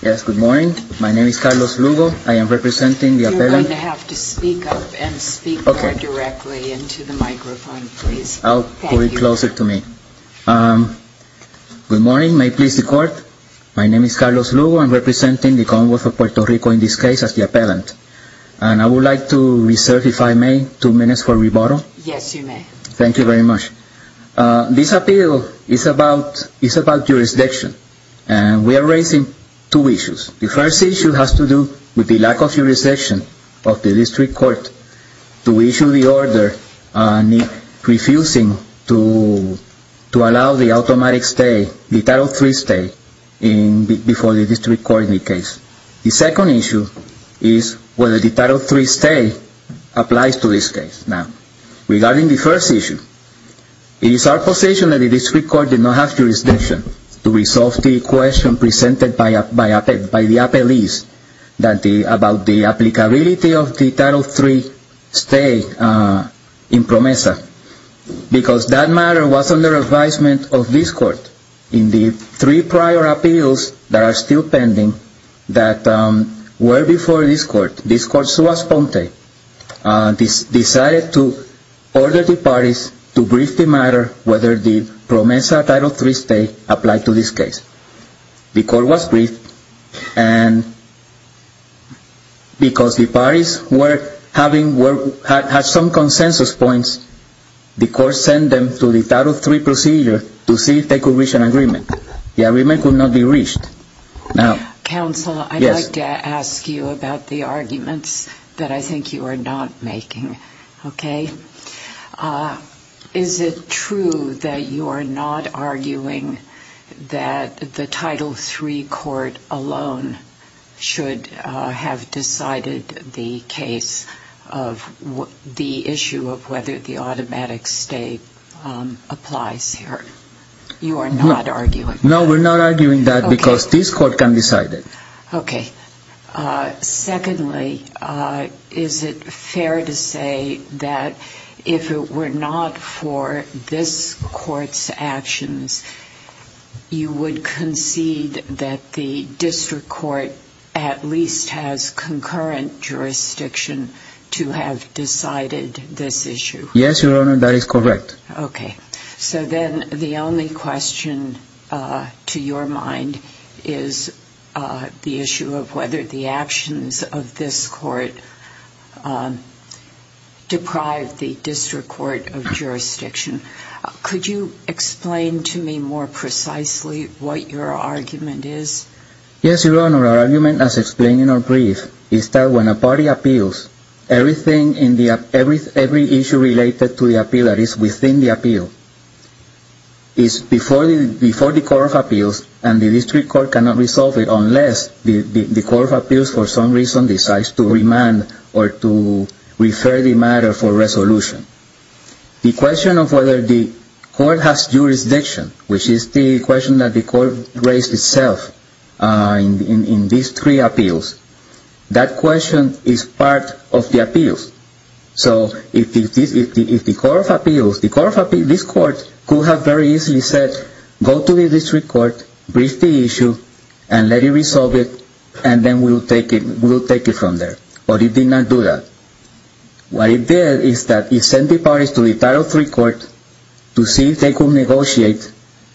Yes, good morning. My name is Carlos Lugo. I am representing the appellant. You're going to have to speak up and speak more directly into the microphone, please. I'll put it closer to me. Good morning. May it please the Court. My name is Carlos Lugo. I'm representing the Commonwealth of Puerto Rico in this case as the appellant. And I would like to reserve, if I may, two minutes for rebuttal. Yes, you may. Thank you very much. This appeal is about jurisdiction. And we are raising two issues. The first issue has to do with the lack of jurisdiction of the district court to issue the order refusing to allow the automatic stay, the Title III stay before the district court in the case. The second issue is whether the Title III stay applies to this case. Now, regarding the first issue, it is our position that the district court did not have jurisdiction to resolve the question presented by the appellees about the applicability of the Title III stay in PROMESA because that matter was under advisement of this court in the three prior appeals that are still pending that were before this court. This court, Suas-Ponte, decided to order the parties to brief the matter whether the PROMESA Title III stay applied to this case. The court was briefed, and because the parties had some consensus points, the court sent them to the Title III procedure to see if they could reach an agreement. The agreement could not be reached. Counsel, I'd like to ask you about the arguments that I think you are not making. Okay? Is it true that you are not arguing that the Title III court alone should have decided the case of the issue of whether the automatic stay applies here? You are not arguing that. No, we're not arguing that because this court can decide it. Okay. Secondly, is it fair to say that if it were not for this court's actions, you would concede that the district court at least has concurrent jurisdiction to have decided this issue? Yes, Your Honor, that is correct. Okay. So then the only question to your mind is the issue of whether the actions of this court deprive the district court of jurisdiction. Could you explain to me more precisely what your argument is? Yes, Your Honor, our argument as explained in our brief is that when a party appeals, every issue related to the appeal that is within the appeal is before the Court of Appeals and the district court cannot resolve it unless the Court of Appeals for some reason decides to remand or to refer the matter for resolution. The question of whether the court has jurisdiction, which is the question that the court raised itself in these three appeals, that question is part of the appeals. So if the Court of Appeals, this court could have very easily said, go to the district court, brief the issue, and let it resolve it, and then we'll take it from there. But it did not do that. What it did is that it sent the parties to the Title III court to see if they could negotiate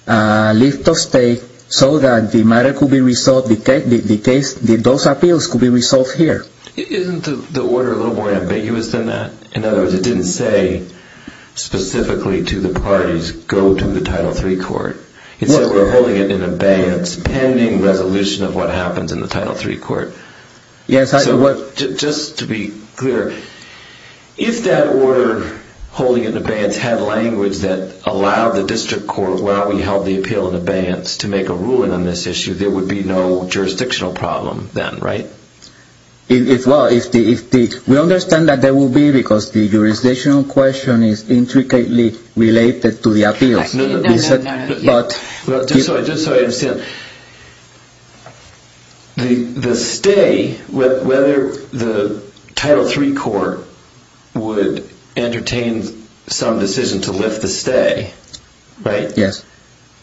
a lift of state so that the matter could be resolved, the case, those appeals could be resolved here. Isn't the order a little more ambiguous than that? In other words, it didn't say specifically to the parties, go to the Title III court. It said we're holding it in abeyance pending resolution of what happens in the Title III court. Yes. So just to be clear, if that order holding it in abeyance had language that allowed the district court, while we held the appeal in abeyance, to make a ruling on this issue, there would be no jurisdictional problem then, right? Well, we understand that there will be because the jurisdictional question is intricately related to the appeals. No, no, no. Just so I understand, the stay, whether the Title III court would entertain some decision to lift the stay, right? Yes.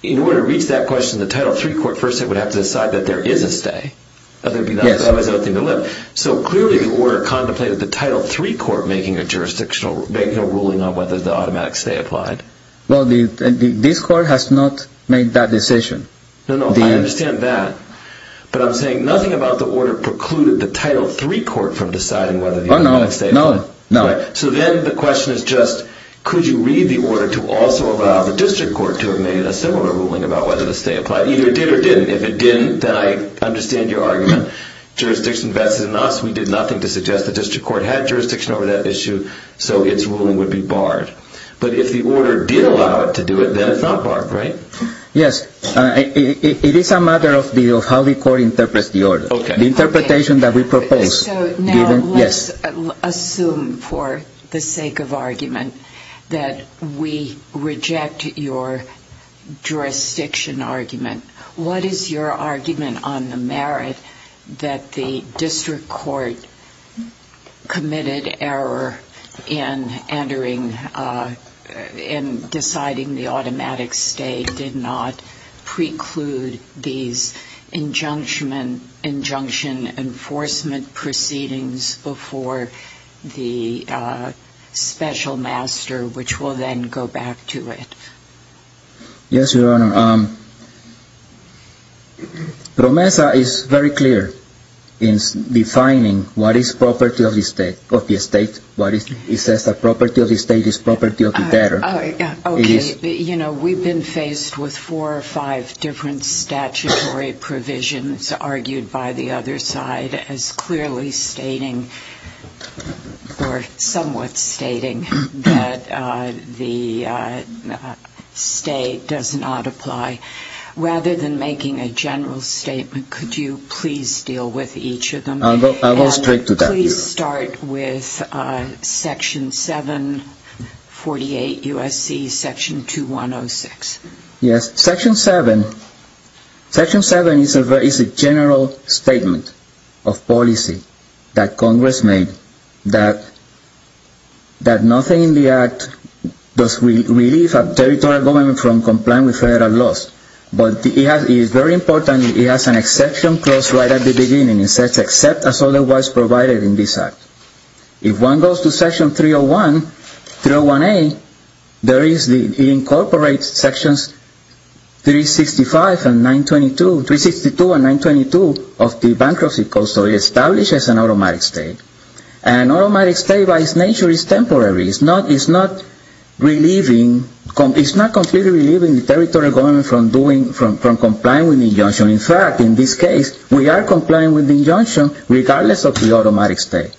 In order to reach that question, the Title III court first would have to decide that there is a stay. Yes. So clearly the order contemplated the Title III court making a jurisdictional ruling on whether the automatic stay applied. Well, this court has not made that decision. No, no, I understand that. But I'm saying nothing about the order precluded the Title III court from deciding whether the automatic stay applied. No, no, no. So then the question is just, could you read the order to also allow the district court to have made a similar ruling about whether the stay applied? Either it did or didn't. If it didn't, then I understand your argument. Jurisdiction vests in us. We did nothing to suggest the district court had jurisdiction over that issue, so its ruling would be barred. But if the order did allow it to do it, then it's not barred, right? Yes. It is a matter of how the court interprets the order. Okay. The interpretation that we propose. So now let's assume for the sake of argument that we reject your jurisdiction argument. What is your argument on the merit that the district court committed error in entering and deciding the automatic stay did not preclude these injunction enforcement proceedings before the special master, which will then go back to it? Yes, Your Honor. PROMESA is very clear in defining what is property of the estate. It says that property of the estate is property of the debtor. Okay. You know, we've been faced with four or five different statutory provisions argued by the other side as clearly stating or somewhat stating that the stay does not apply. Rather than making a general statement, could you please deal with each of them? I'll go straight to that. Could you please start with Section 748 U.S.C. Section 2106? Yes. Section 7. Section 7 is a general statement of policy that Congress made that nothing in the act does relieve a territorial government from complying with federal laws. But it is very important it has an exception clause right at the beginning. It says except as otherwise provided in this act. If one goes to Section 301A, it incorporates Sections 365 and 922 of the bankruptcy code, so it establishes an automatic stay. An automatic stay by its nature is temporary. It's not completely relieving the territorial government from complying with the injunction. In fact, in this case, we are complying with the injunction regardless of the automatic stay.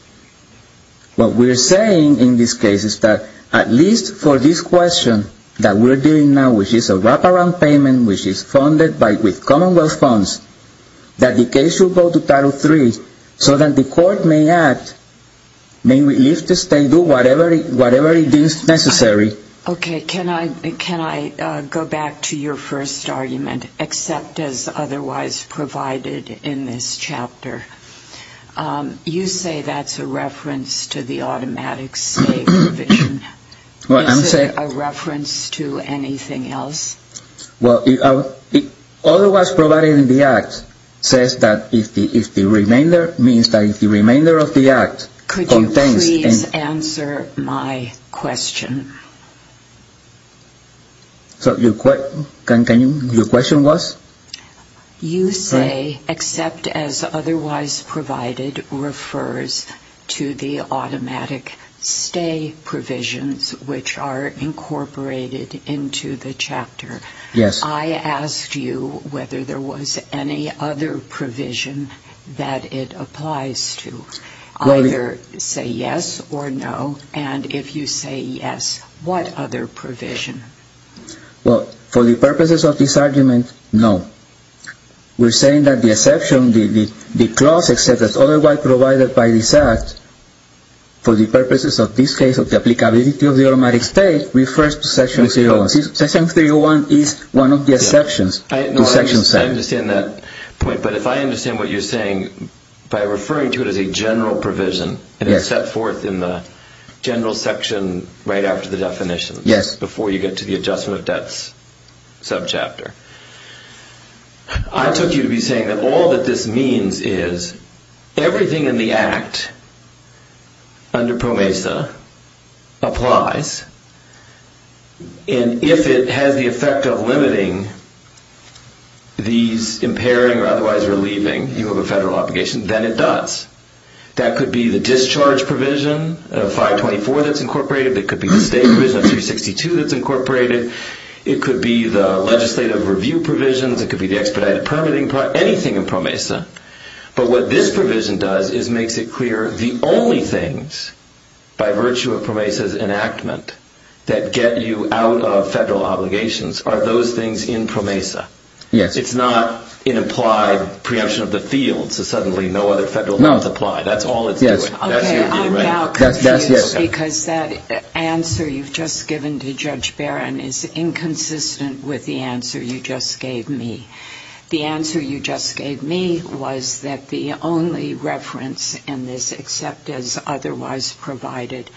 What we're saying in this case is that at least for this question that we're dealing now, which is a wraparound payment, which is funded with Commonwealth funds, that the case should go to Title III so that the court may act, may leave the state, do whatever it deems necessary. Okay. Can I go back to your first argument, except as otherwise provided in this chapter? You say that's a reference to the automatic stay provision. Is it a reference to anything else? Well, otherwise provided in the act says that if the remainder means that if the remainder of the act contains... Could you please answer my question? So your question was? You say except as otherwise provided refers to the automatic stay provisions, which are incorporated into the chapter. Yes. I asked you whether there was any other provision that it applies to. Either say yes or no, and if you say yes, what other provision? Well, for the purposes of this argument, no. We're saying that the exception, the clause except as otherwise provided by this act, for the purposes of this case, of the applicability of the automatic stay, refers to Section 301. Section 301 is one of the exceptions to Section 7. I understand that point, but if I understand what you're saying, by referring to it as a general provision, and it's set forth in the general section right after the definition, before you get to the adjustment of debts subchapter. I took you to be saying that all that this means is everything in the act under PROMESA applies, and if it has the effect of limiting these impairing or otherwise relieving, you have a federal obligation, then it does. That could be the discharge provision of 524 that's incorporated. It could be the state provision of 362 that's incorporated. It could be the legislative review provisions. It could be the expedited permitting, anything in PROMESA, but what this provision does is makes it clear the only things by virtue of PROMESA's enactment that get you out of federal obligations are those things in PROMESA. Yes. It's not an implied preemption of the field, so suddenly no other federal laws apply. No. That's all it's doing. Yes. Okay, I'm now confused because that answer you've just given to Judge Barron is inconsistent with the answer you just gave me. The answer you just gave me was that the only reference in this, except as otherwise provided,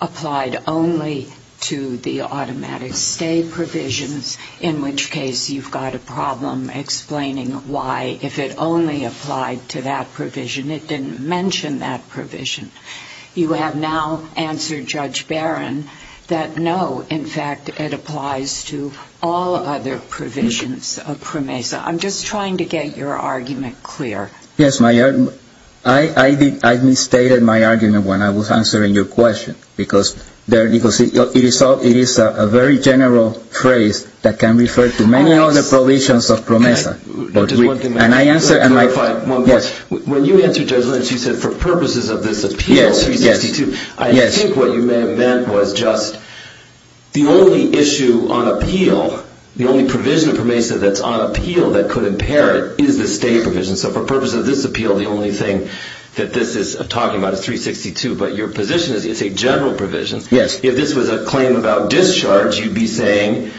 applied only to the automatic stay provisions, in which case you've got a problem explaining why, if it only applied to that provision. It didn't mention that provision. You have now answered Judge Barron that no, in fact, it applies to all other provisions of PROMESA. I'm just trying to get your argument clear. Yes, I misstated my argument when I was answering your question, because it is a very general phrase that can refer to many other provisions of PROMESA. When you answered Judge Lynch, you said for purposes of this appeal, I think what you may have meant was just the only issue on appeal, the only provision of PROMESA that's on appeal that could impair it is the stay provision. So for purposes of this appeal, the only thing that this is talking about is 362, but your position is it's a general provision. Yes. If this was a claim about discharge, you'd be saying,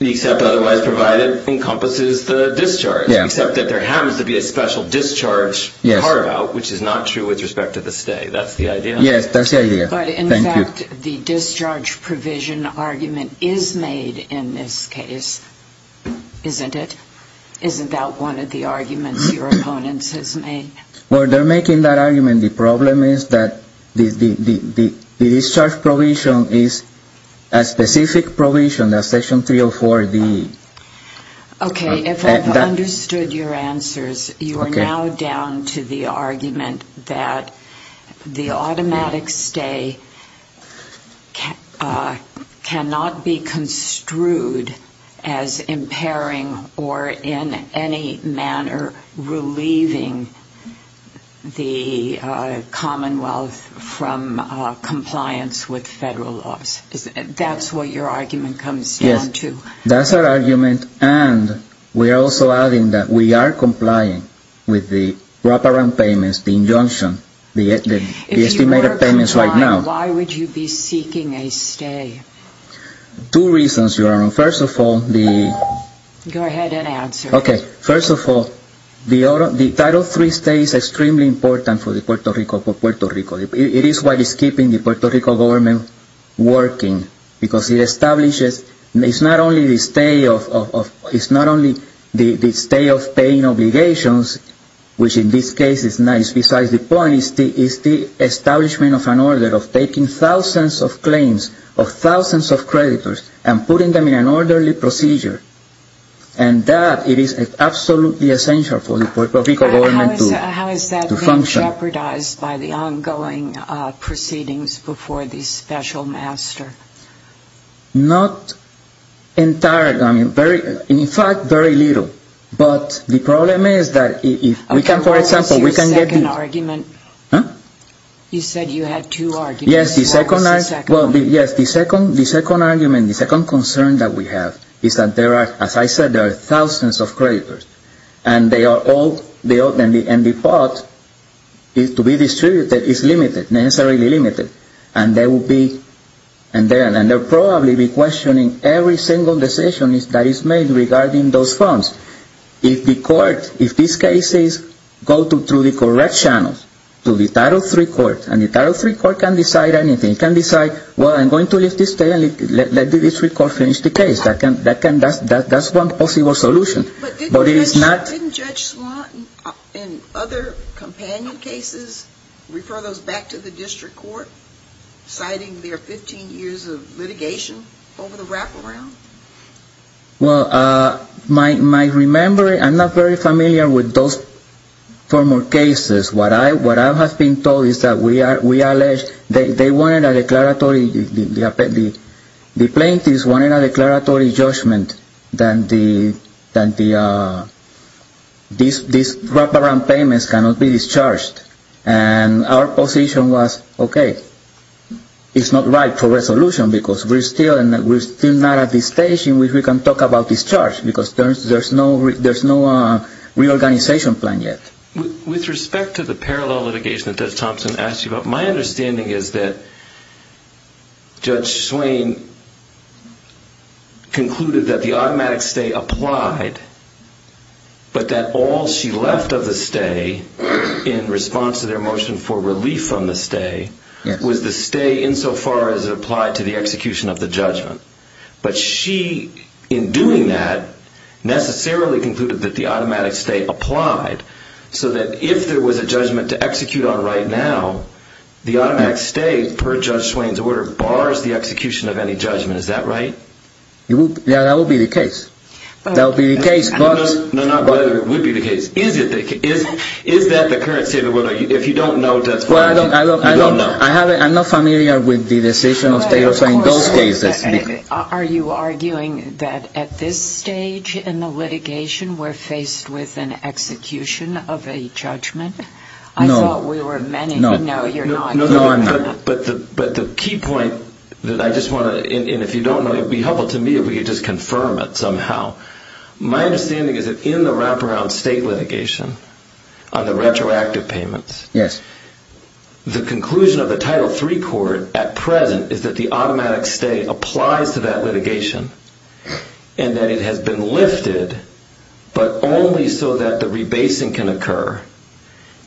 except otherwise provided, encompasses the discharge, except that there happens to be a special discharge part about, which is not true with respect to the stay. That's the idea? Yes, that's the idea. Thank you. But, in fact, the discharge provision argument is made in this case, isn't it? One of the arguments your opponents has made. Well, they're making that argument. The problem is that the discharge provision is a specific provision, that's Section 304D. Okay. If I've understood your answers, you are now down to the argument that the automatic stay cannot be construed as impairing or in any manner relieving the Commonwealth from compliance with federal laws. That's what your argument comes down to? That's our argument, and we're also adding that we are complying with the wraparound payments, the injunction, the estimated payments right now. If you were complying, why would you be seeking a stay? Two reasons, Your Honor. First of all, the... Go ahead and answer. Okay. First of all, the Title III stay is extremely important for Puerto Rico. It is what is keeping the Puerto Rico government working, because it establishes... It's not only the stay of paying obligations, which in this case is nice. Besides, the point is the establishment of an order of taking thousands of claims of thousands of creditors and putting them in an orderly procedure. And that, it is absolutely essential for the Puerto Rico government to function. Are you jeopardized by the ongoing proceedings before the special master? Not entirely. I mean, in fact, very little. But the problem is that if we can, for example, we can get... What was your second argument? Huh? You said you had two arguments. Yes, the second argument, the second concern that we have is that there are, as I said, there are thousands of creditors. And they are all... And the pot to be distributed is limited, necessarily limited. And there will be... And they'll probably be questioning every single decision that is made regarding those funds. If the court, if these cases go through the correct channels to the Title III court, and the Title III court can decide anything. It can decide, well, I'm going to leave this stay and let the District Court finish the case. That's one possible solution. But didn't Judge Swann, in other companion cases, refer those back to the District Court, citing their 15 years of litigation over the wraparound? Well, my remembering, I'm not very familiar with those former cases. What I have been told is that we are alleged... They wanted a declaratory... The plaintiffs wanted a declaratory judgment that these wraparound payments cannot be discharged. And our position was, okay, it's not right for resolution because we're still not at the stage in which we can talk about discharge. Because there's no reorganization plan yet. With respect to the parallel litigation that Judge Thompson asked you about, my understanding is that Judge Swann concluded that the automatic stay applied. But that all she left of the stay, in response to their motion for relief from the stay, was the stay insofar as it applied to the execution of the judgment. But she, in doing that, necessarily concluded that the automatic stay applied. So that if there was a judgment to execute on right now, the automatic stay, per Judge Swann's order, bars the execution of any judgment. Is that right? Yeah, that would be the case. That would be the case, but... No, not whether it would be the case. Is that the current statement? If you don't know, that's fine. No, I don't know. I'm not familiar with the decision of Taylor in those cases. Are you arguing that at this stage in the litigation, we're faced with an execution of a judgment? No. I thought we were many. No. No, you're not. No, I'm not. But the key point that I just want to, and if you don't know, it would be helpful to me if we could just confirm it somehow. My understanding is that in the wraparound state litigation, on the retroactive payments... Yes. The conclusion of the Title III court at present is that the automatic stay applies to that litigation, and that it has been lifted, but only so that the rebasing can occur,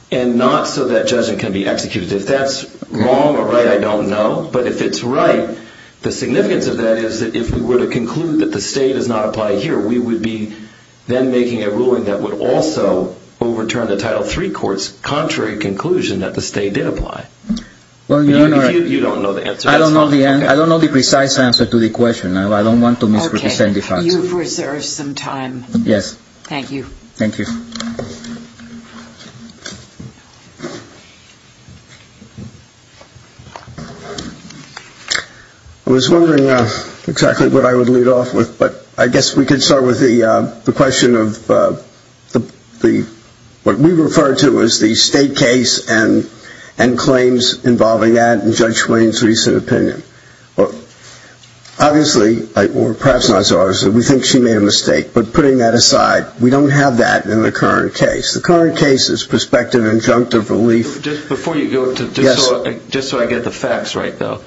and not so that judgment can be executed. If that's wrong or right, I don't know. But if it's right, the significance of that is that if we were to conclude that the stay does not apply here, we would be then making a ruling that would also overturn the Title III court's contrary conclusion that the stay did apply. You don't know the answer. I don't know the precise answer to the question. I don't want to misrepresent the facts. Okay. You've reserved some time. Yes. Thank you. Thank you. I was wondering exactly what I would lead off with, but I guess we could start with the question of what we refer to as the state case and claims involving that and Judge Swain's recent opinion. Obviously, or perhaps not so obviously, we think she made a mistake, but putting that aside, we don't have that in the current case. The current case is prospective injunctive relief. Before you go, just so I get the facts right, though,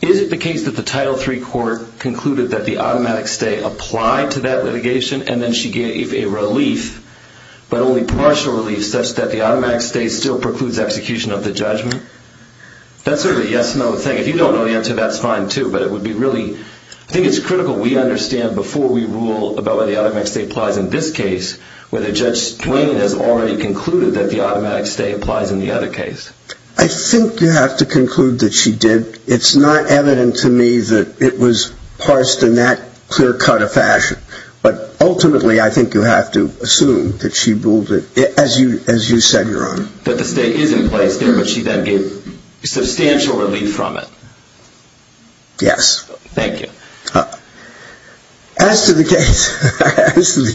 is it the case that the Title III court concluded that the automatic stay applied to that litigation, and then she gave a relief, but only partial relief, such that the automatic stay still precludes execution of the judgment? That's sort of a yes-no thing. If you don't know the answer, that's fine, too, but it would be really – I think it's critical we understand before we rule about whether the automatic stay applies in this case, whether Judge Swain has already concluded that the automatic stay applies in the other case. I think you have to conclude that she did. It's not evident to me that it was parsed in that clear-cut of fashion, but ultimately, I think you have to assume that she ruled it – as you said, Your Honor. That the stay is in place there, but she then gave substantial relief from it. Yes. Thank you. As to the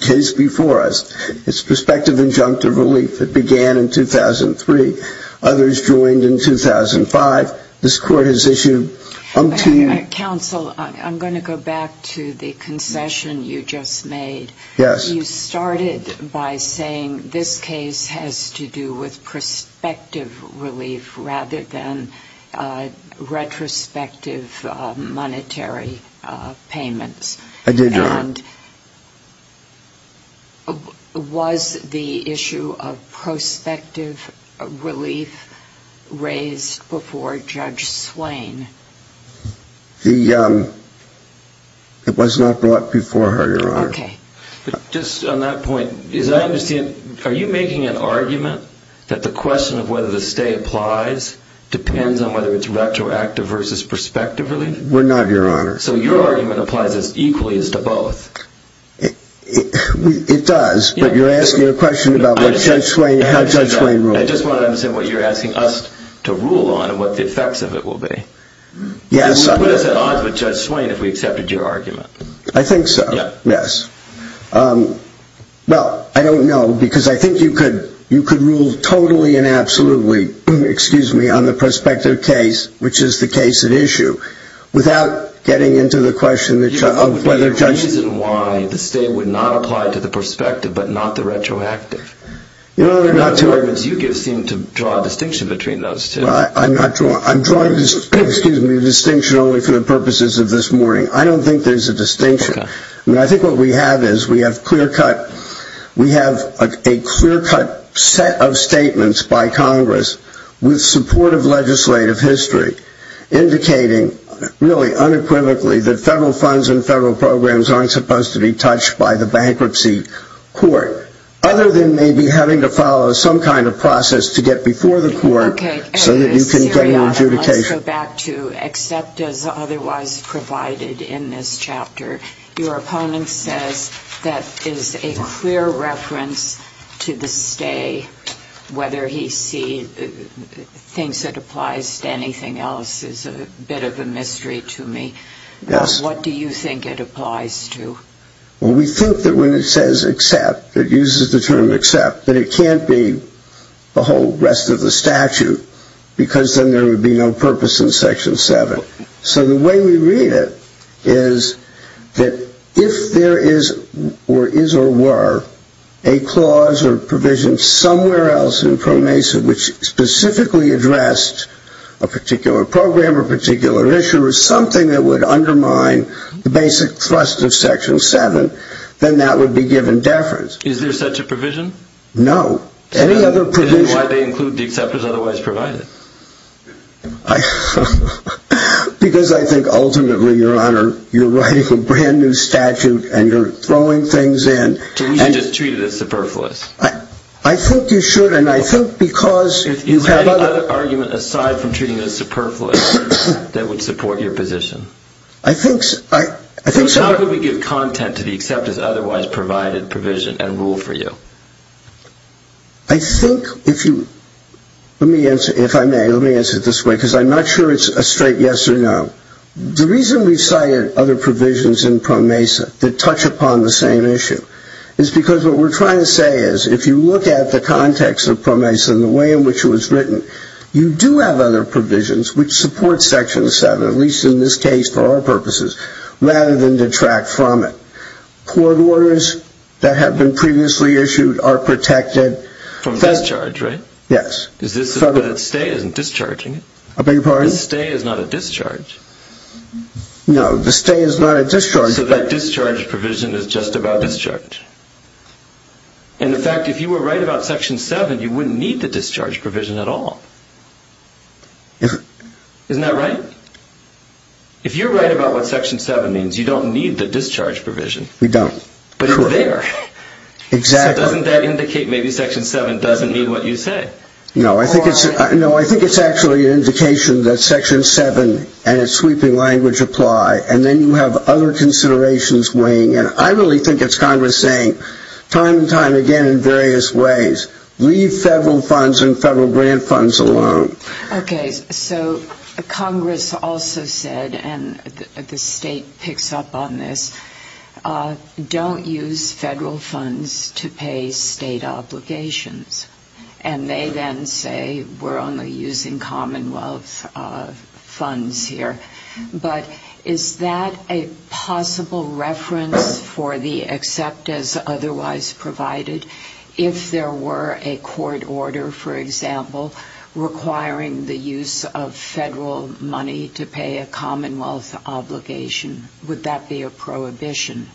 case before us, it's prospective injunctive relief that began in 2003. Others joined in 2005. This Court has issued – Counsel, I'm going to go back to the concession you just made. Yes. You started by saying this case has to do with prospective relief rather than retrospective monetary payments. I did, Your Honor. And was the issue of prospective relief raised before Judge Swain? The – it was not brought before her, Your Honor. Okay. Just on that point, as I understand, are you making an argument that the question of whether the stay applies depends on whether it's retroactive versus prospective relief? We're not, Your Honor. So your argument applies as equally as to both. It does, but you're asking a question about what Judge Swain – how Judge Swain ruled. I just want to understand what you're asking us to rule on and what the effects of it will be. Yes. I think so. Yes. Well, I don't know because I think you could rule totally and absolutely, excuse me, on the prospective case, which is the case at issue, without getting into the question of whether Judge – The reason why the stay would not apply to the prospective but not the retroactive. Your Honor, I'm not – Those arguments you give seem to draw a distinction between those two. I'm not drawing – I'm drawing, excuse me, a distinction only for the purposes of this morning. I don't think there's a distinction. Okay. I mean, I think what we have is we have clear-cut – we have a clear-cut set of statements by Congress with support of legislative history, indicating really unequivocally that federal funds and federal programs aren't supposed to be touched by the bankruptcy court, other than maybe having to follow some kind of process to get before the court so that you can get an adjudication. Let me go back to except as otherwise provided in this chapter. Your opponent says that is a clear reference to the stay. Whether he sees – thinks it applies to anything else is a bit of a mystery to me. Yes. What do you think it applies to? Well, we think that when it says except, it uses the term except, that it can't be the whole rest of the statute because then there would be no purpose in Section 7. So the way we read it is that if there is or is or were a clause or provision somewhere else in Pro Mesa which specifically addressed a particular program or a particular issue and there was something that would undermine the basic thrust of Section 7, then that would be given deference. Is there such a provision? No. Any other provision? Then why did they include the except as otherwise provided? Because I think ultimately, Your Honor, you're writing a brand-new statute and you're throwing things in. So we should just treat it as superfluous? I think you should, and I think because – Any other argument aside from treating it as superfluous that would support your position? I think – How could we give content to the except as otherwise provided provision and rule for you? I think if you – let me answer – if I may, let me answer it this way because I'm not sure it's a straight yes or no. The reason we cited other provisions in Pro Mesa that touch upon the same issue is because what we're trying to say is that if you look at the context of Pro Mesa and the way in which it was written, you do have other provisions which support Section 7, at least in this case for our purposes, rather than detract from it. Court orders that have been previously issued are protected. From discharge, right? Yes. Is this – the stay isn't discharging it. I beg your pardon? The stay is not a discharge. No, the stay is not a discharge. So that discharge provision is just about discharge. In fact, if you were right about Section 7, you wouldn't need the discharge provision at all. Isn't that right? If you're right about what Section 7 means, you don't need the discharge provision. We don't. But you're there. Exactly. So doesn't that indicate maybe Section 7 doesn't mean what you say? No, I think it's actually an indication that Section 7 and its sweeping language apply, and then you have other considerations weighing in. I really think it's Congress saying time and time again in various ways, leave federal funds and federal grant funds alone. Okay. So Congress also said, and the state picks up on this, don't use federal funds to pay state obligations. And they then say we're only using Commonwealth funds here. But is that a possible reference for the except as otherwise provided? If there were a court order, for example, requiring the use of federal money to pay a Commonwealth obligation, would that be a prohibition?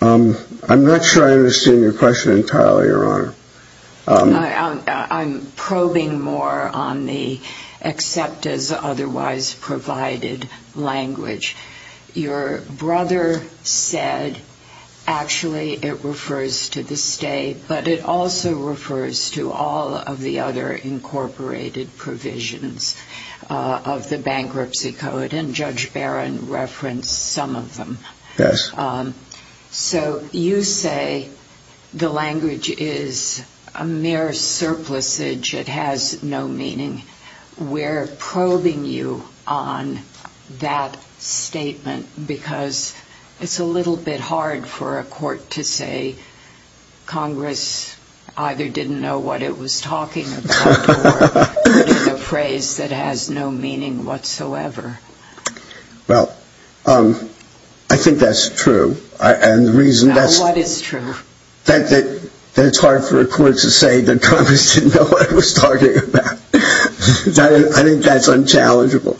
I'm not sure I understand your question entirely, Your Honor. I'm probing more on the except as otherwise provided language. Your brother said actually it refers to the state, but it also refers to all of the other incorporated provisions of the Bankruptcy Code, and Judge Barron referenced some of them. Yes. So you say the language is a mere surplusage. It has no meaning. We're probing you on that statement because it's a little bit hard for a court to say Congress either didn't know what it was talking about or put in a phrase that has no meaning whatsoever. Well, I think that's true. What is true? That it's hard for a court to say that Congress didn't know what it was talking about. I think that's unchallengeable.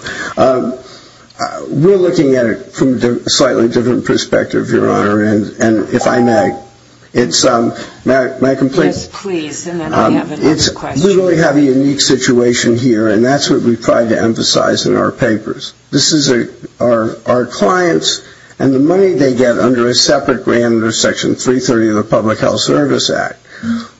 We're looking at it from a slightly different perspective, Your Honor, and if I may, it's my complaint. Yes, please, and then we have another question. We usually have a unique situation here, and that's what we try to emphasize in our papers. This is our clients and the money they get under a separate grant under Section 330 of the Public Health Service Act.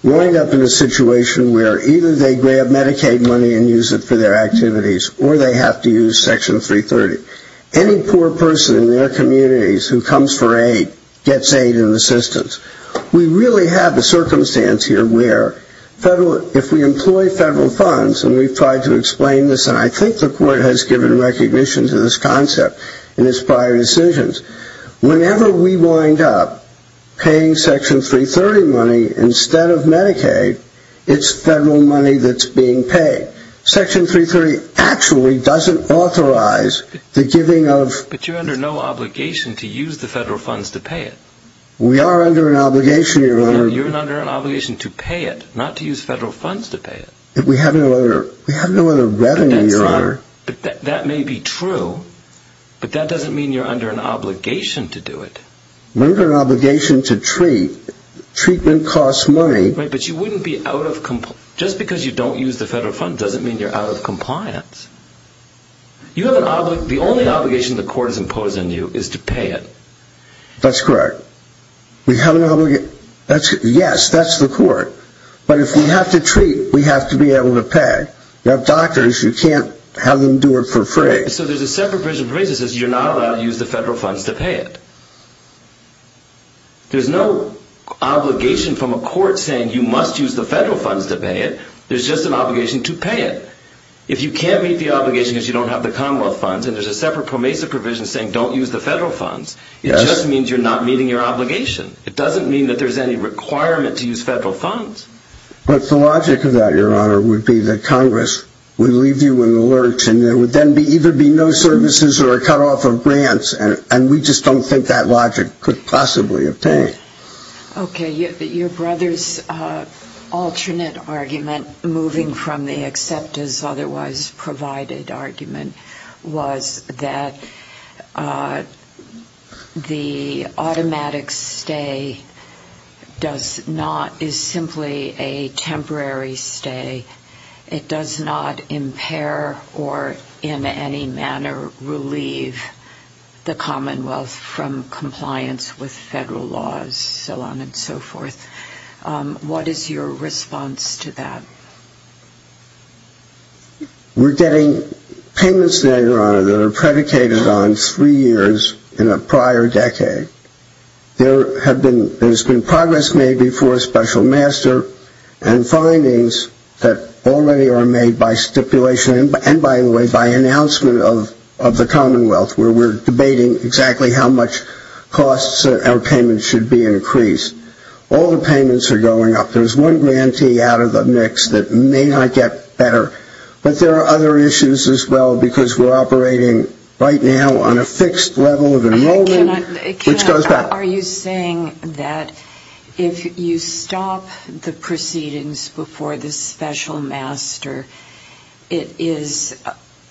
We wind up in a situation where either they grab Medicaid money and use it for their activities, or they have to use Section 330. Any poor person in their communities who comes for aid gets aid and assistance. We really have a circumstance here where if we employ federal funds, and we've tried to explain this, and I think the court has given recognition to this concept in its prior decisions, whenever we wind up paying Section 330 money instead of Medicaid, it's federal money that's being paid. Section 330 actually doesn't authorize the giving of... But you're under no obligation to use the federal funds to pay it. We are under an obligation, Your Honor. You're under an obligation to pay it, not to use federal funds to pay it. We have no other revenue, Your Honor. That may be true, but that doesn't mean you're under an obligation to do it. We're under an obligation to treat. Treatment costs money. Right, but you wouldn't be out of... Just because you don't use the federal funds doesn't mean you're out of compliance. The only obligation the court has imposed on you is to pay it. That's correct. We have an obligation... Yes, that's the court. But if we have to treat, we have to be able to pay. You have doctors, you can't have them do it for free. So there's a separate provision that says you're not allowed to use the federal funds to pay it. There's no obligation from a court saying you must use the federal funds to pay it. There's just an obligation to pay it. If you can't meet the obligation because you don't have the Commonwealth funds, and there's a separate PROMESA provision saying don't use the federal funds, it just means you're not meeting your obligation. It doesn't mean that there's any requirement to use federal funds. But the logic of that, Your Honor, would be that Congress would leave you in the lurch, and there would then either be no services or a cutoff of grants, and we just don't think that logic could possibly obtain. Okay, your brother's alternate argument, moving from the accept as otherwise provided argument, was that the automatic stay does not, is simply a temporary stay. It does not impair or in any manner relieve the Commonwealth from compliance with federal laws, so on and so forth. What is your response to that? We're getting payments now, Your Honor, that are predicated on three years in a prior decade. There has been progress made before a special master and findings that already are made by stipulation and, by the way, by announcement of the Commonwealth, where we're debating exactly how much costs our payments should be increased. All the payments are going up. There's one grantee out of the mix that may not get better, but there are other issues as well because we're operating right now on a fixed level of enrollment. Are you saying that if you stop the proceedings before the special master, it is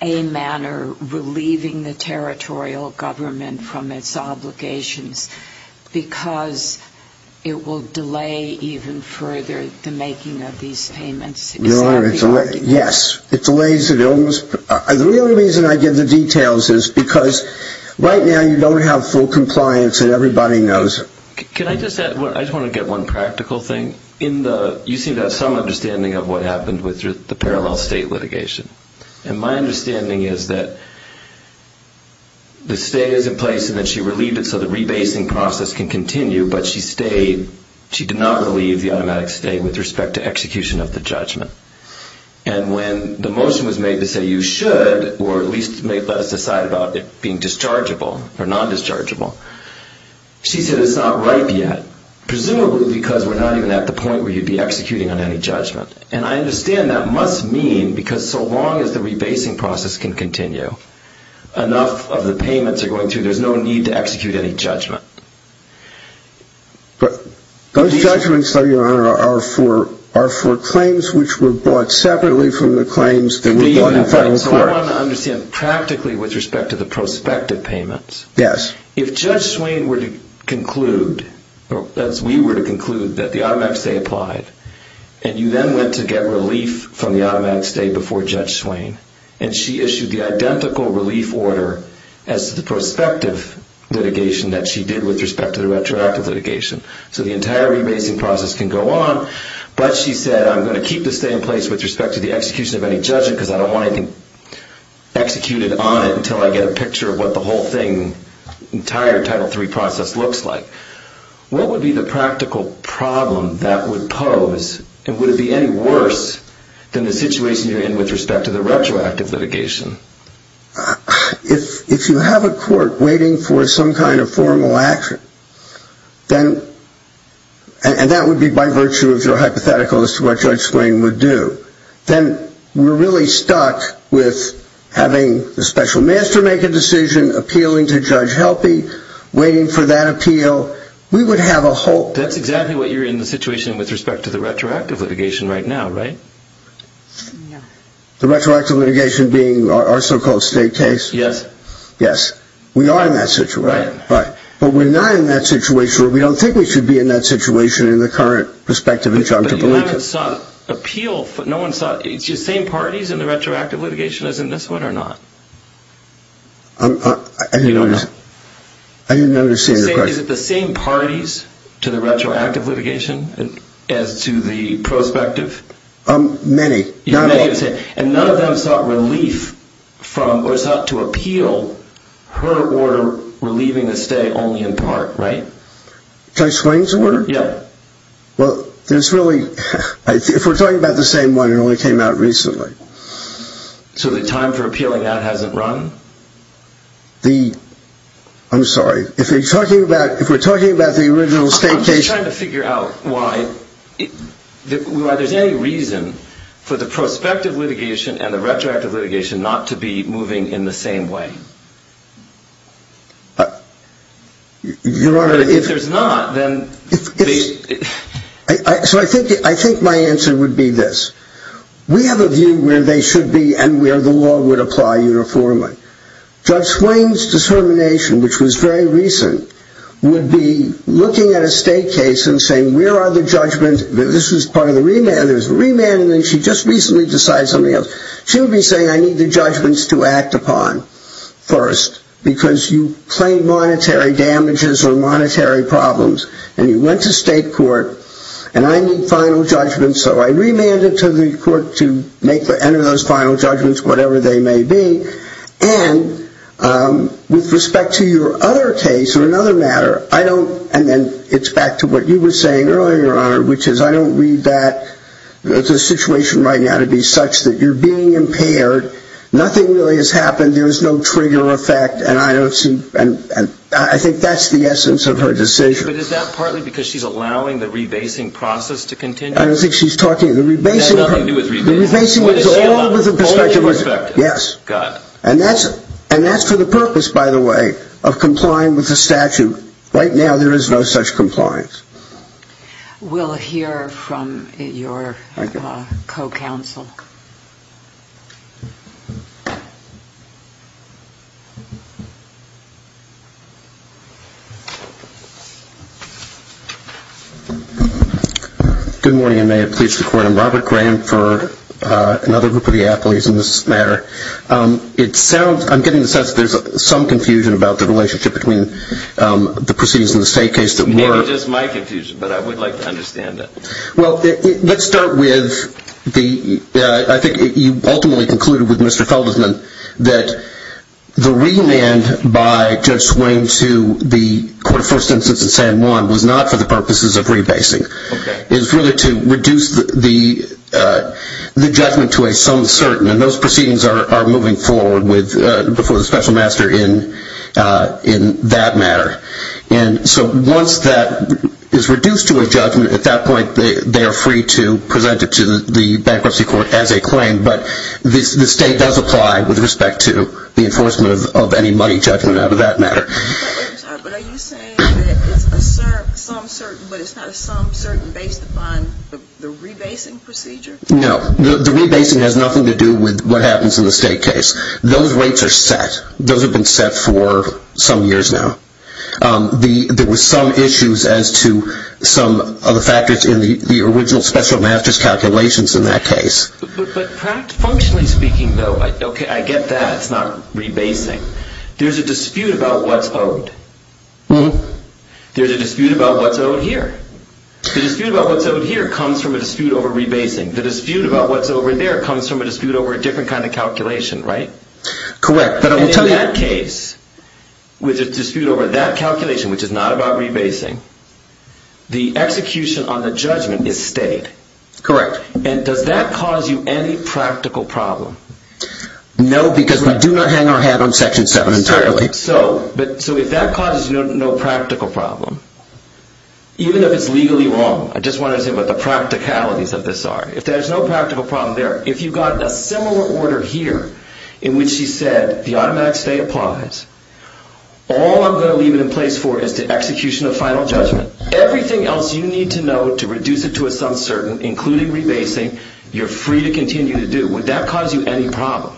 a manner relieving the territorial government from its obligations because it will delay even further the making of these payments? Your Honor, yes, it delays. The real reason I give the details is because right now you don't have full compliance and everybody knows it. Can I just add, I just want to get one practical thing. You seem to have some understanding of what happened with the parallel state litigation. My understanding is that the stay is in place and that she relieved it so the rebasing process can continue, but she did not relieve the automatic stay with respect to execution of the judgment. When the motion was made to say you should, or at least let us decide about it being dischargeable or nondischargeable, she said it's not ripe yet, presumably because we're not even at the point where you'd be executing on any judgment. And I understand that must mean because so long as the rebasing process can continue, enough of the payments are going through, there's no need to execute any judgment. But those judgments, Your Honor, are for claims which were bought separately from the claims that were bought in final court. So I want to understand practically with respect to the prospective payments. Yes. If Judge Swain were to conclude, as we were to conclude, that the automatic stay applied, and you then went to get relief from the automatic stay before Judge Swain, and she issued the identical relief order as the prospective litigation that she did with respect to the retroactive litigation, so the entire rebasing process can go on, but she said I'm going to keep the stay in place with respect to the execution of any judgment because I don't want anything executed on it until I get a picture of what the whole thing, entire Title III process looks like. What would be the practical problem that would pose, and would it be any worse than the situation you're in with respect to the retroactive litigation? If you have a court waiting for some kind of formal action, and that would be by virtue of your hypothetical as to what Judge Swain would do, then we're really stuck with having the special master make a decision, appealing to Judge Helpe, waiting for that appeal. We would have a whole. That's exactly what you're in the situation with respect to the retroactive litigation right now, right? The retroactive litigation being our so-called state case? Yes. Yes. We are in that situation. Right. But we're not in that situation, or we don't think we should be in that situation in the current prospective injunctive. But you haven't sought appeal. It's the same parties in the retroactive litigation as in this one or not? I didn't understand your question. Is it the same parties to the retroactive litigation as to the prospective? Many. And none of them sought relief from or sought to appeal her order relieving the stay only in part, right? Judge Swain's order? Yes. Well, if we're talking about the same one, it only came out recently. So the time for appealing that hasn't run? I'm sorry. If we're talking about the original state case. I'm just trying to figure out why there's any reason for the prospective litigation and the retroactive litigation not to be moving in the same way. Your Honor. If there's not, then. So I think my answer would be this. We have a view where they should be and where the law would apply uniformly. Judge Swain's discernment, which was very recent, would be looking at a state case and saying where are the judgments. This is part of the remand. There's a remand, and then she just recently decided something else. She would be saying I need the judgments to act upon. First, because you claim monetary damages or monetary problems, and you went to state court, and I need final judgments. So I remanded to the court to enter those final judgments, whatever they may be. And with respect to your other case or another matter, I don't, and then it's back to what you were saying earlier, Your Honor, which is I don't read that as a situation right now to be such that you're being impaired. Nothing really has happened. There is no trigger effect, and I don't see, and I think that's the essence of her decision. But is that partly because she's allowing the rebasing process to continue? I don't think she's talking, the rebasing. That has nothing to do with rebasing. The rebasing is all with the perspective, yes. Got it. And that's for the purpose, by the way, of complying with the statute. Right now there is no such compliance. We'll hear from your co-counsel. Good morning, and may it please the Court. I'm Robert Graham for another group of the athletes in this matter. It sounds, I'm getting the sense there's some confusion about the relationship between the proceedings in the state case that were Maybe just my confusion, but I would like to understand it. Well, let's start with the, I think you ultimately concluded with Mr. Feldman, that the remand by Judge Swain to the court of first instance in San Juan was not for the purposes of rebasing. Okay. It was really to reduce the judgment to a some certain, and those proceedings are moving forward before the special master in that matter. And so once that is reduced to a judgment, at that point they are free to present it to the bankruptcy court as a claim. But the state does apply with respect to the enforcement of any money judgment out of that matter. But are you saying that it's a some certain, but it's not a some certain based upon the rebasing procedure? No. The rebasing has nothing to do with what happens in the state case. Those rates are set. Those have been set for some years now. There were some issues as to some of the factors in the original special master's calculations in that case. But functionally speaking though, okay, I get that. It's not rebasing. There's a dispute about what's owed. There's a dispute about what's owed here. The dispute about what's owed here comes from a dispute over rebasing. The dispute about what's owed there comes from a dispute over a different kind of calculation, right? Correct. And in that case, with a dispute over that calculation, which is not about rebasing, the execution on the judgment is stayed. Correct. And does that cause you any practical problem? No, because we do not hang our hat on Section 7 entirely. Certainly. So if that causes you no practical problem, even if it's legally wrong, I just want to say what the practicalities of this are. If there's no practical problem there, if you've got a similar order here in which she said the automatic stay applies, all I'm going to leave it in place for is the execution of final judgment. Everything else you need to know to reduce it to a sum certain, including rebasing, you're free to continue to do. Would that cause you any problem?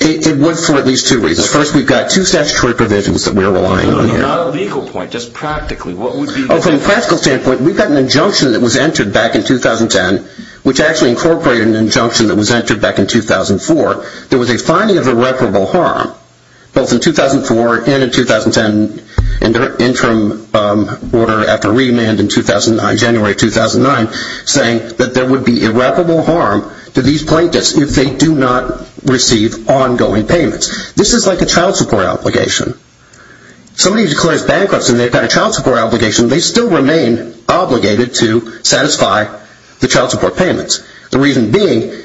It would for at least two reasons. First, we've got two statutory provisions that we're relying on here. Not a legal point, just practically. From a practical standpoint, we've got an injunction that was entered back in 2010, which actually incorporated an injunction that was entered back in 2004. There was a finding of irreparable harm, both in 2004 and in 2010, in the interim order after remand in January 2009, saying that there would be irreparable harm to these plaintiffs if they do not receive ongoing payments. This is like a child support obligation. Somebody declares bankruptcy and they've got a child support obligation, they still remain obligated to satisfy the child support payments. The reason being,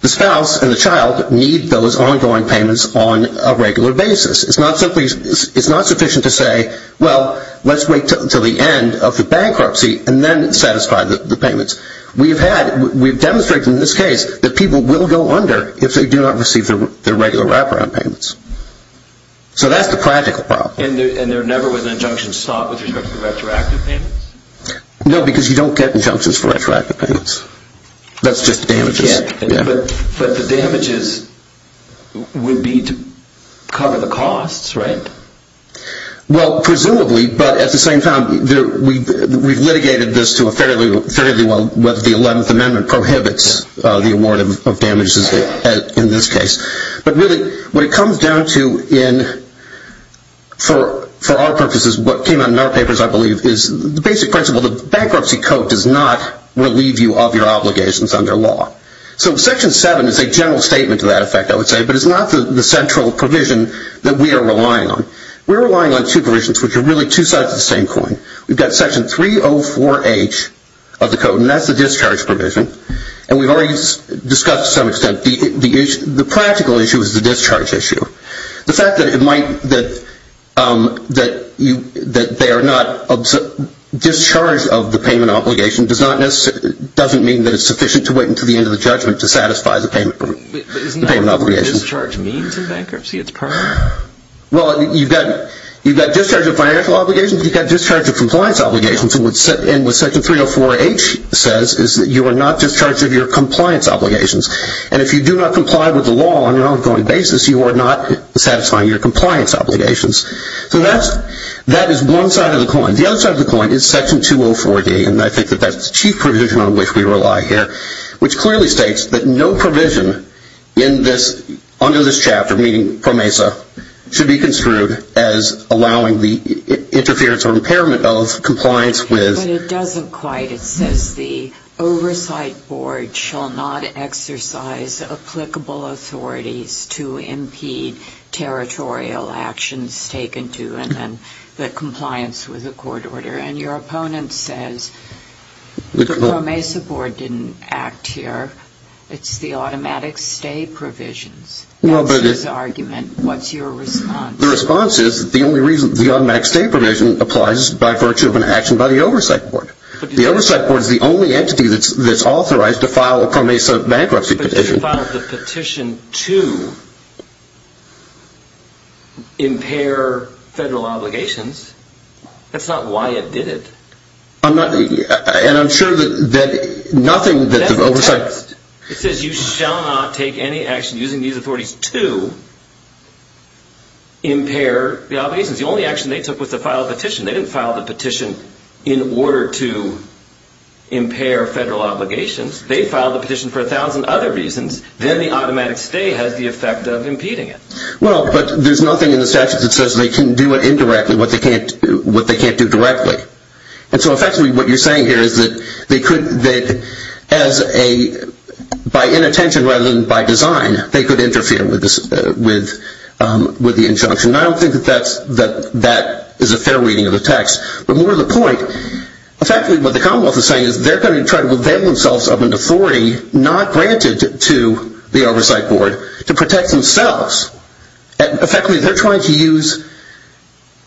the spouse and the child need those ongoing payments on a regular basis. It's not sufficient to say, well, let's wait until the end of the bankruptcy and then satisfy the payments. We've demonstrated in this case that people will go under if they do not receive their regular wraparound payments. So that's the practical problem. And there never was an injunction sought with respect to retroactive payments? No, because you don't get injunctions for retroactive payments. That's just damages. But the damages would be to cover the costs, right? Well, presumably, but at the same time, we've litigated this to a fairly well, whether the 11th Amendment prohibits the award of damages in this case. But really, what it comes down to in, for our purposes, what came out in our papers, I believe, is the basic principle that the bankruptcy code does not relieve you of your obligations under law. So Section 7 is a general statement to that effect, I would say, but it's not the central provision that we are relying on. We're relying on two provisions which are really two sides of the same coin. We've got Section 304H of the code, and that's the discharge provision. And we've already discussed, to some extent, the practical issue is the discharge issue. The fact that they are not, discharge of the payment obligation doesn't mean that it's sufficient to wait until the end of the judgment to satisfy the payment obligation. But isn't that what discharge means in bankruptcy? It's permanent? Well, you've got discharge of financial obligations. You've got discharge of compliance obligations. And what Section 304H says is that you are not discharged of your compliance obligations. And if you do not comply with the law on an ongoing basis, you are not satisfying your compliance obligations. So that is one side of the coin. The other side of the coin is Section 204D, and I think that that's the chief provision on which we rely here, which clearly states that no provision under this chapter, meaning PROMESA, should be construed as allowing the interference or impairment of compliance with. But it doesn't quite. It says the oversight board shall not exercise applicable authorities to impede territorial actions taken to and then the compliance with a court order. And your opponent says the PROMESA board didn't act here. It's the automatic stay provisions. That's his argument. What's your response? The response is the only reason the automatic stay provision applies is by virtue of an action by the oversight board. The oversight board is the only entity that's authorized to file a PROMESA bankruptcy petition. But if you filed the petition to impair federal obligations, that's not why it did it. I'm not – and I'm sure that nothing that the oversight – the oversight board is authorized to impair the obligations. The only action they took was to file a petition. They didn't file the petition in order to impair federal obligations. They filed the petition for a thousand other reasons. Then the automatic stay has the effect of impeding it. Well, but there's nothing in the statute that says they can do it indirectly, what they can't do directly. And so effectively what you're saying here is that they could – that as a – by inattention rather than by design, they could interfere with the injunction. And I don't think that that's – that that is a fair reading of the text. But more to the point, effectively what the Commonwealth is saying is they're going to try to avail themselves of an authority not granted to the oversight board to protect themselves. Effectively, they're trying to use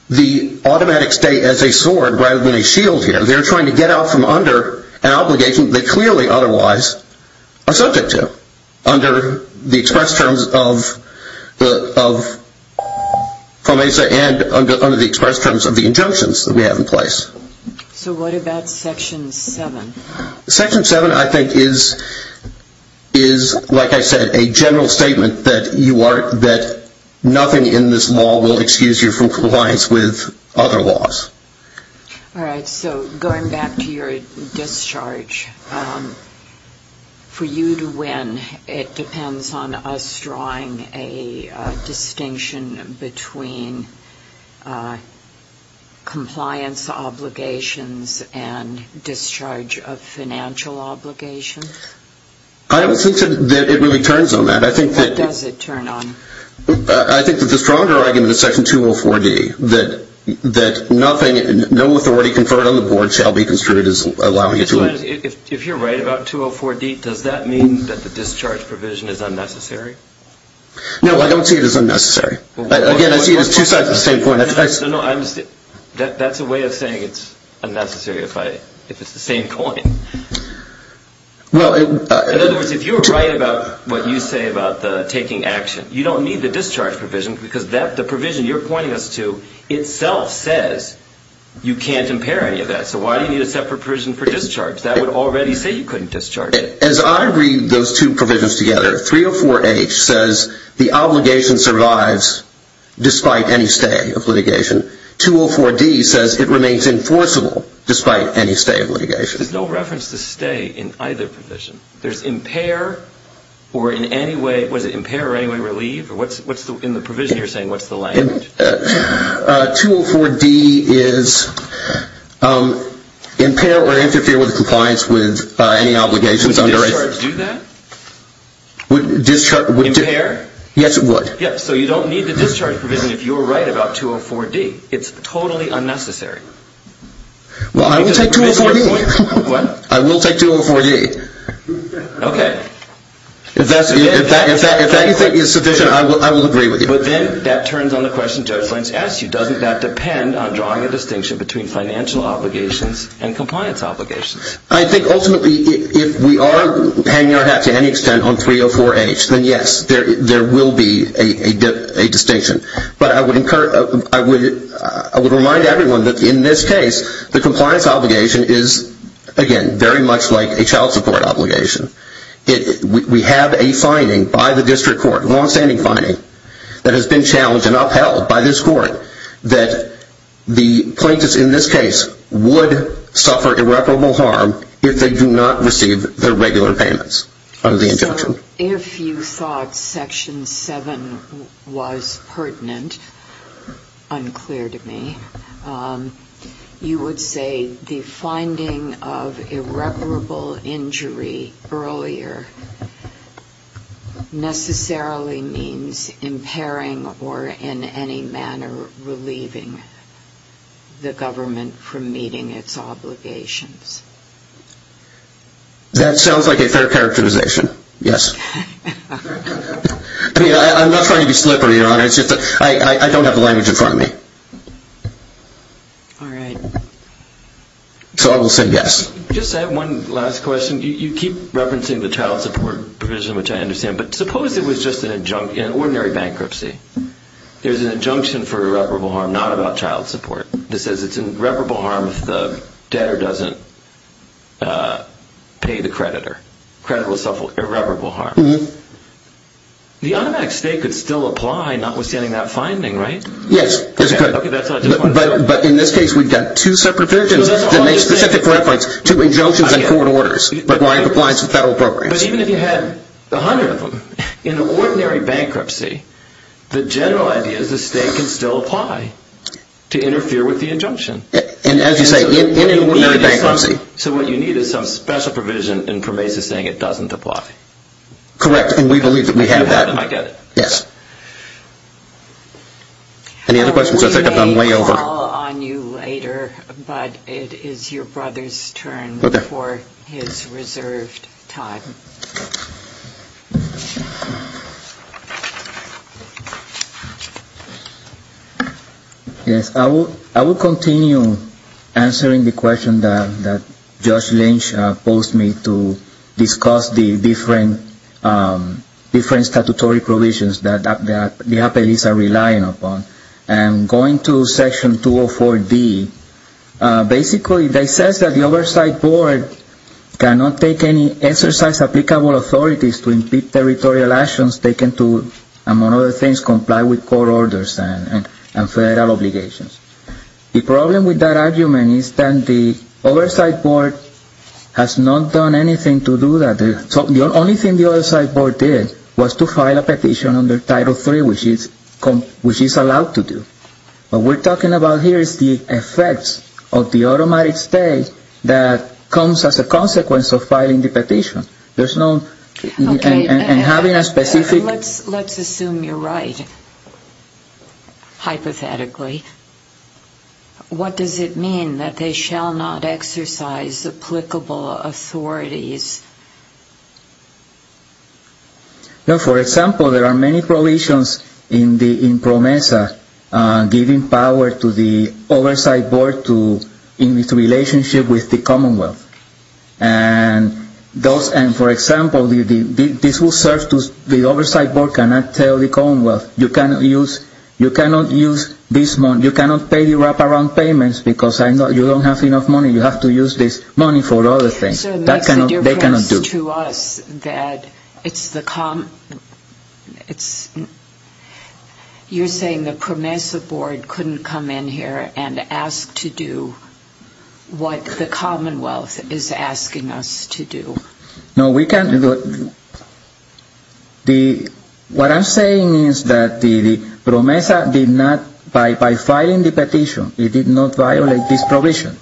the automatic stay as a sword rather than a shield here. They're trying to get out from under an obligation that they clearly otherwise are subject to under the express terms of FOMESA and under the express terms of the injunctions that we have in place. So what about Section 7? Section 7 I think is, like I said, a general statement that you are – that nothing in this law will excuse you from compliance with other laws. All right. So going back to your discharge, for you to win, it depends on us drawing a distinction between compliance obligations and discharge of financial obligations? I don't think that it really turns on that. I think that – What does it turn on? I think that the stronger argument is Section 204D, that nothing – no authority conferred on the board shall be construed as allowing it to – If you're right about 204D, does that mean that the discharge provision is unnecessary? No, I don't see it as unnecessary. Again, I see it as two sides of the same coin. That's a way of saying it's unnecessary if I – if it's the same coin. Well, it – In other words, if you're right about what you say about the taking action, you don't need the discharge provision because the provision you're pointing us to itself says you can't impair any of that. So why do you need a separate provision for discharge? That would already say you couldn't discharge it. As I read those two provisions together, 304H says the obligation survives despite any stay of litigation. 204D says it remains enforceable despite any stay of litigation. There's no reference to stay in either provision. There's impair or in any way – what is it, impair or in any way relieve? What's the – in the provision you're saying, what's the language? 204D is impair or interfere with compliance with any obligations under – Would discharge do that? Would discharge – Impair? Yes, it would. Yes, so you don't need the discharge provision if you're right about 204D. It's totally unnecessary. Well, I will take 204D. What? I will take 204D. Okay. If that's – if that – if that – if that you think is sufficient, I will agree with you. But then that turns on the question Judge Lange asked you. Doesn't that depend on drawing a distinction between financial obligations and compliance obligations? I think ultimately if we are hanging our hat to any extent on 304H, then yes, there will be a distinction. But I would encourage – I would remind everyone that in this case, the compliance obligation is, again, very much like a child support obligation. We have a finding by the district court, longstanding finding, that has been challenged and upheld by this court, that the plaintiffs in this case would suffer irreparable harm if they do not receive their regular payments under the injunction. If you thought Section 7 was pertinent, unclear to me, you would say the finding of irreparable injury earlier necessarily means impairing or in any manner relieving the government from meeting its obligations? That sounds like a fair characterization, yes. I mean, I'm not trying to be slippery, Your Honor. It's just that I don't have the language in front of me. All right. So I will say yes. Just one last question. You keep referencing the child support provision, which I understand. But suppose it was just an – an ordinary bankruptcy. There's an injunction for irreparable harm not about child support. This says it's irreparable harm if the debtor doesn't pay the creditor. Creditor will suffer irreparable harm. The automatic state could still apply notwithstanding that finding, right? Yes. Okay, that's what I just wanted to say. But in this case, we've got two separate provisions that make specific reference to injunctions and court orders, but why it applies to federal programs. But even if you had a hundred of them, in an ordinary bankruptcy, the general idea is the state can still apply to interfere with the injunction. And as you say, in an ordinary bankruptcy. So what you need is some special provision in PROMESA saying it doesn't apply. Correct, and we believe that we have that. You have that, and I get it. Yes. Any other questions? I think I've gone way over. We may call on you later, but it is your brother's turn for his reserved time. Yes. I will continue answering the question that Judge Lynch posed me to discuss the different statutory provisions that the appellees are relying upon. And going to Section 204D, basically they say that the Oversight Board cannot take any exercise applicable authorities to impede territorial actions taken to, among other things, comply with court orders and federal obligations. The problem with that argument is that the Oversight Board has not done anything to do that. The only thing the Oversight Board did was to file a petition under Title III, which it's allowed to do. What we're talking about here is the effects of the automatic state that comes as a consequence of filing the petition. Okay, and let's assume you're right, hypothetically. What does it mean that they shall not exercise applicable authorities? For example, there are many provisions in PROMESA giving power to the Oversight Board in its relationship with the Commonwealth. And for example, this will serve to the Oversight Board cannot tell the Commonwealth, you cannot use this money, you cannot pay the wraparound payments because you don't have enough money, you have to use this money for other things. So it makes a difference to us that it's the, you're saying the PROMESA Board couldn't come in here and ask to do what the Commonwealth is asking us to do. No, we can't. What I'm saying is that the PROMESA did not, by filing the petition, it did not violate this provision.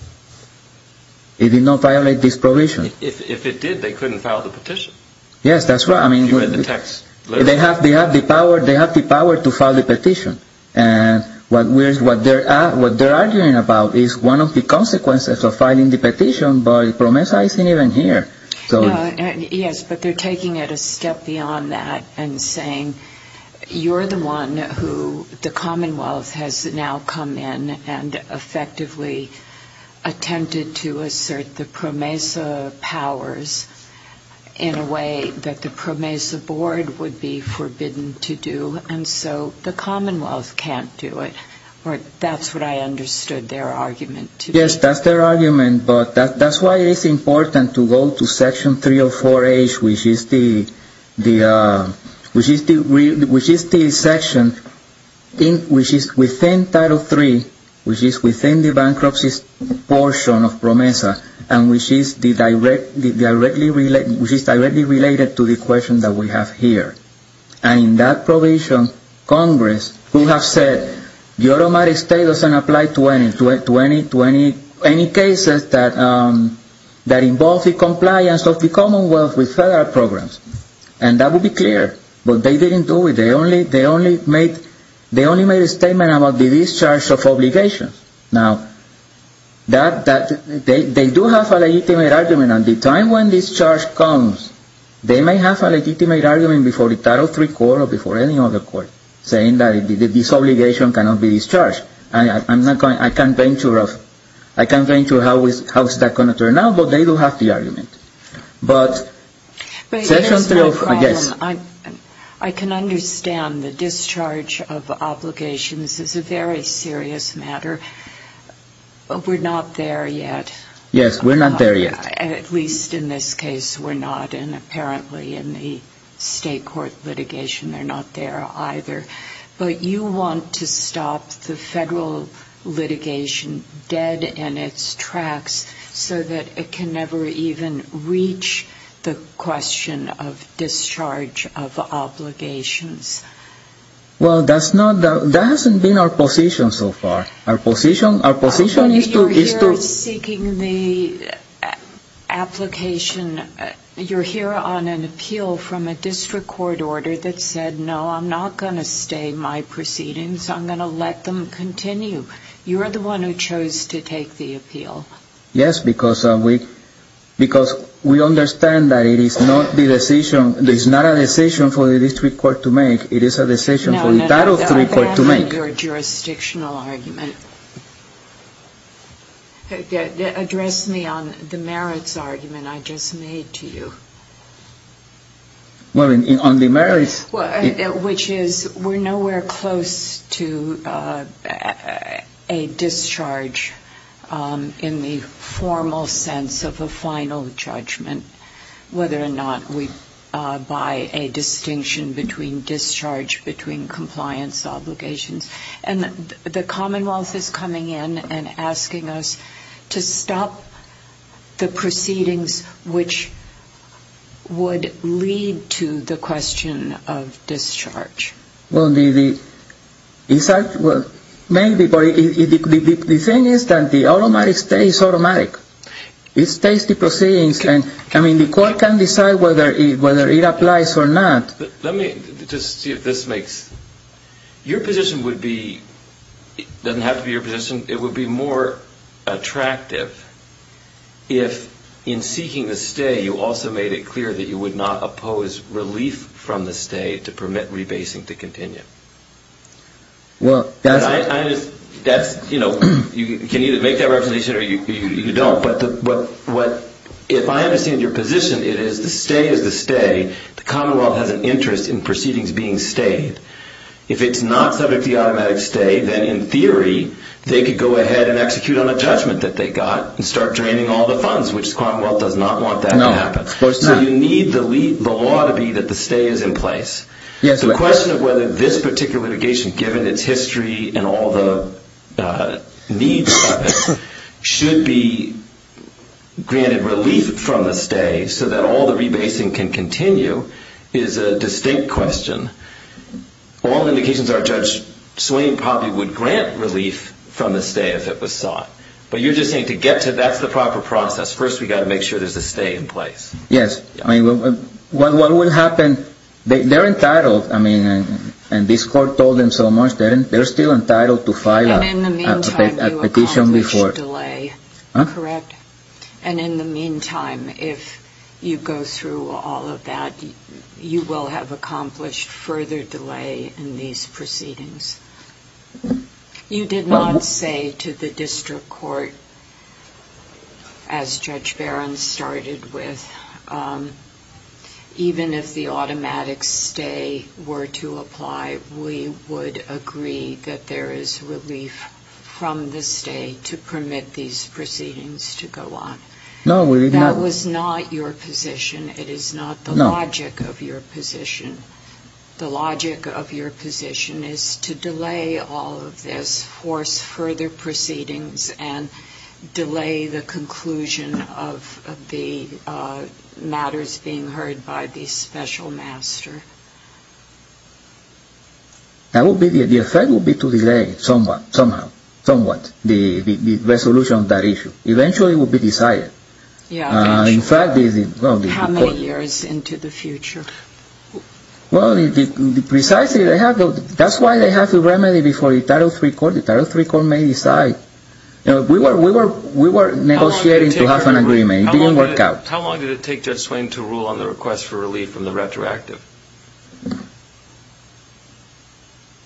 It did not violate this provision. If it did, they couldn't file the petition. Yes, that's right. You read the text. They have the power to file the petition. And what they're arguing about is one of the consequences of filing the petition, but PROMESA isn't even here. Yes, but they're taking it a step beyond that and saying you're the one who the Commonwealth has now come in and effectively attempted to assert the PROMESA powers in a way that the PROMESA Board would be forbidden to do. And so the Commonwealth can't do it. That's what I understood their argument to be. Yes, that's their argument. But that's why it's important to go to Section 304H, which is the section which is within Title III, which is within the bankruptcy portion of PROMESA, and which is directly related to the question that we have here. And in that provision, Congress could have said the automatic state doesn't apply to any cases that involve the compliance of the Commonwealth with federal programs. And that would be clear, but they didn't do it. They only made a statement about the discharge of obligations. Now, they do have a legitimate argument. And at the time when discharge comes, they may have a legitimate argument before the Title III Court or before any other court, saying that this obligation cannot be discharged. I can't venture how that's going to turn out, but they do have the argument. But Section 304H... But here's my problem. I can understand the discharge of obligations is a very serious matter. We're not there yet. Yes, we're not there yet. At least in this case, we're not. And apparently in the state court litigation, they're not there either. But you want to stop the federal litigation dead in its tracks so that it can never even reach the question of discharge of obligations. Well, that hasn't been our position so far. Our position is to... You're here seeking the application. You're here on an appeal from a district court order that said, no, I'm not going to stay my proceedings. I'm going to let them continue. You're the one who chose to take the appeal. Yes, because we understand that it is not a decision for the district court to make. It is a decision for the Title III Court to make. Your jurisdictional argument. Address me on the merits argument I just made to you. Well, on the merits... Which is we're nowhere close to a discharge in the formal sense of a final judgment, whether or not we buy a distinction between discharge, between compliance obligations. And the Commonwealth is coming in and asking us to stop the proceedings which would lead to the question of discharge. Well, the thing is that the automatic stay is automatic. It stays the proceedings. I mean, the court can decide whether it applies or not. Let me just see if this makes... Your position would be... It doesn't have to be your position. It would be more attractive if in seeking the stay you also made it clear that you would not oppose relief from the stay to permit rebasing to continue. Well, that's... That's, you know, you can either make that representation or you don't. If I understand your position, it is the stay is the stay. The Commonwealth has an interest in proceedings being stayed. If it's not subject to the automatic stay, then in theory they could go ahead and execute on a judgment that they got and start draining all the funds, which the Commonwealth does not want that to happen. No, of course not. So you need the law to be that the stay is in place. The question of whether this particular litigation, given its history and all the needs of it, should be granted relief from the stay so that all the rebasing can continue is a distinct question. All indications are Judge Swain probably would grant relief from the stay if it was sought. But you're just saying to get to... That's the proper process. First we've got to make sure there's a stay in place. Yes. What will happen... They're entitled, I mean, and this court told them so much, they're still entitled to file a petition before... And in the meantime you accomplished delay, correct? Huh? And in the meantime, if you go through all of that, you will have accomplished further delay in these proceedings. You did not say to the district court, as Judge Barron started with, even if the automatic stay were to apply, we would agree that there is relief from the stay to permit these proceedings to go on. No, we did not... That was not your position. It is not the logic of your position. The logic of your position is to delay all of this, force further proceedings, and delay the conclusion of the matters being heard by the special master. The effect would be to delay somewhat, the resolution of that issue. Eventually it will be decided. In fact... How many years into the future? Well, precisely, that's why they have the remedy before the Title III Court. The Title III Court may decide. We were negotiating to have an agreement. It didn't work out. How long did it take Judge Swain to rule on the request for relief from the retroactive?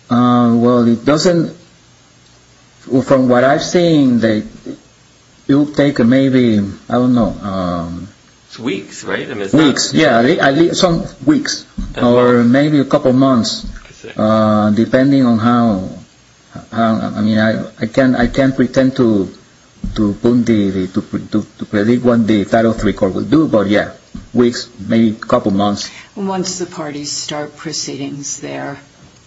Well, it doesn't... From what I've seen, it will take maybe, I don't know... Weeks, right? Weeks, yeah. Some weeks, or maybe a couple of months, depending on how... I mean, I can't pretend to predict what the Title III Court will do, but yeah, weeks, maybe a couple of months. Once the parties start proceedings there,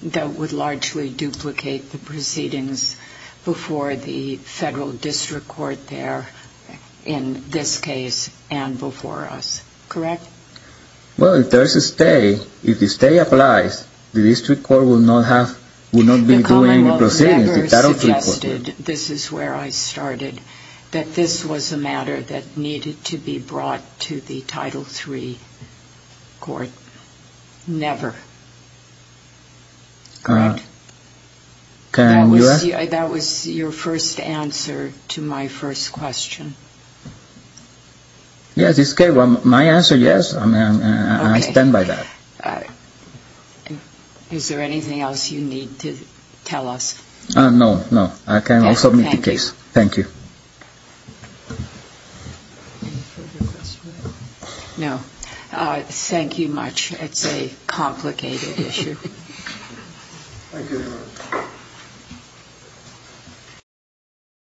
that would largely duplicate the proceedings before the Federal District Court there, in this case, and before us. Correct? Well, if there's a stay, if the stay applies, the District Court will not be doing the proceedings. The Commonwealth never suggested, this is where I started, that this was a matter that needed to be brought to the Title III Court. Never. That was your first answer to my first question. Yeah, this case, my answer, yes. I stand by that. Is there anything else you need to tell us? No, no. I can also meet the case. Thank you. No. Thank you much. It's a complicated issue.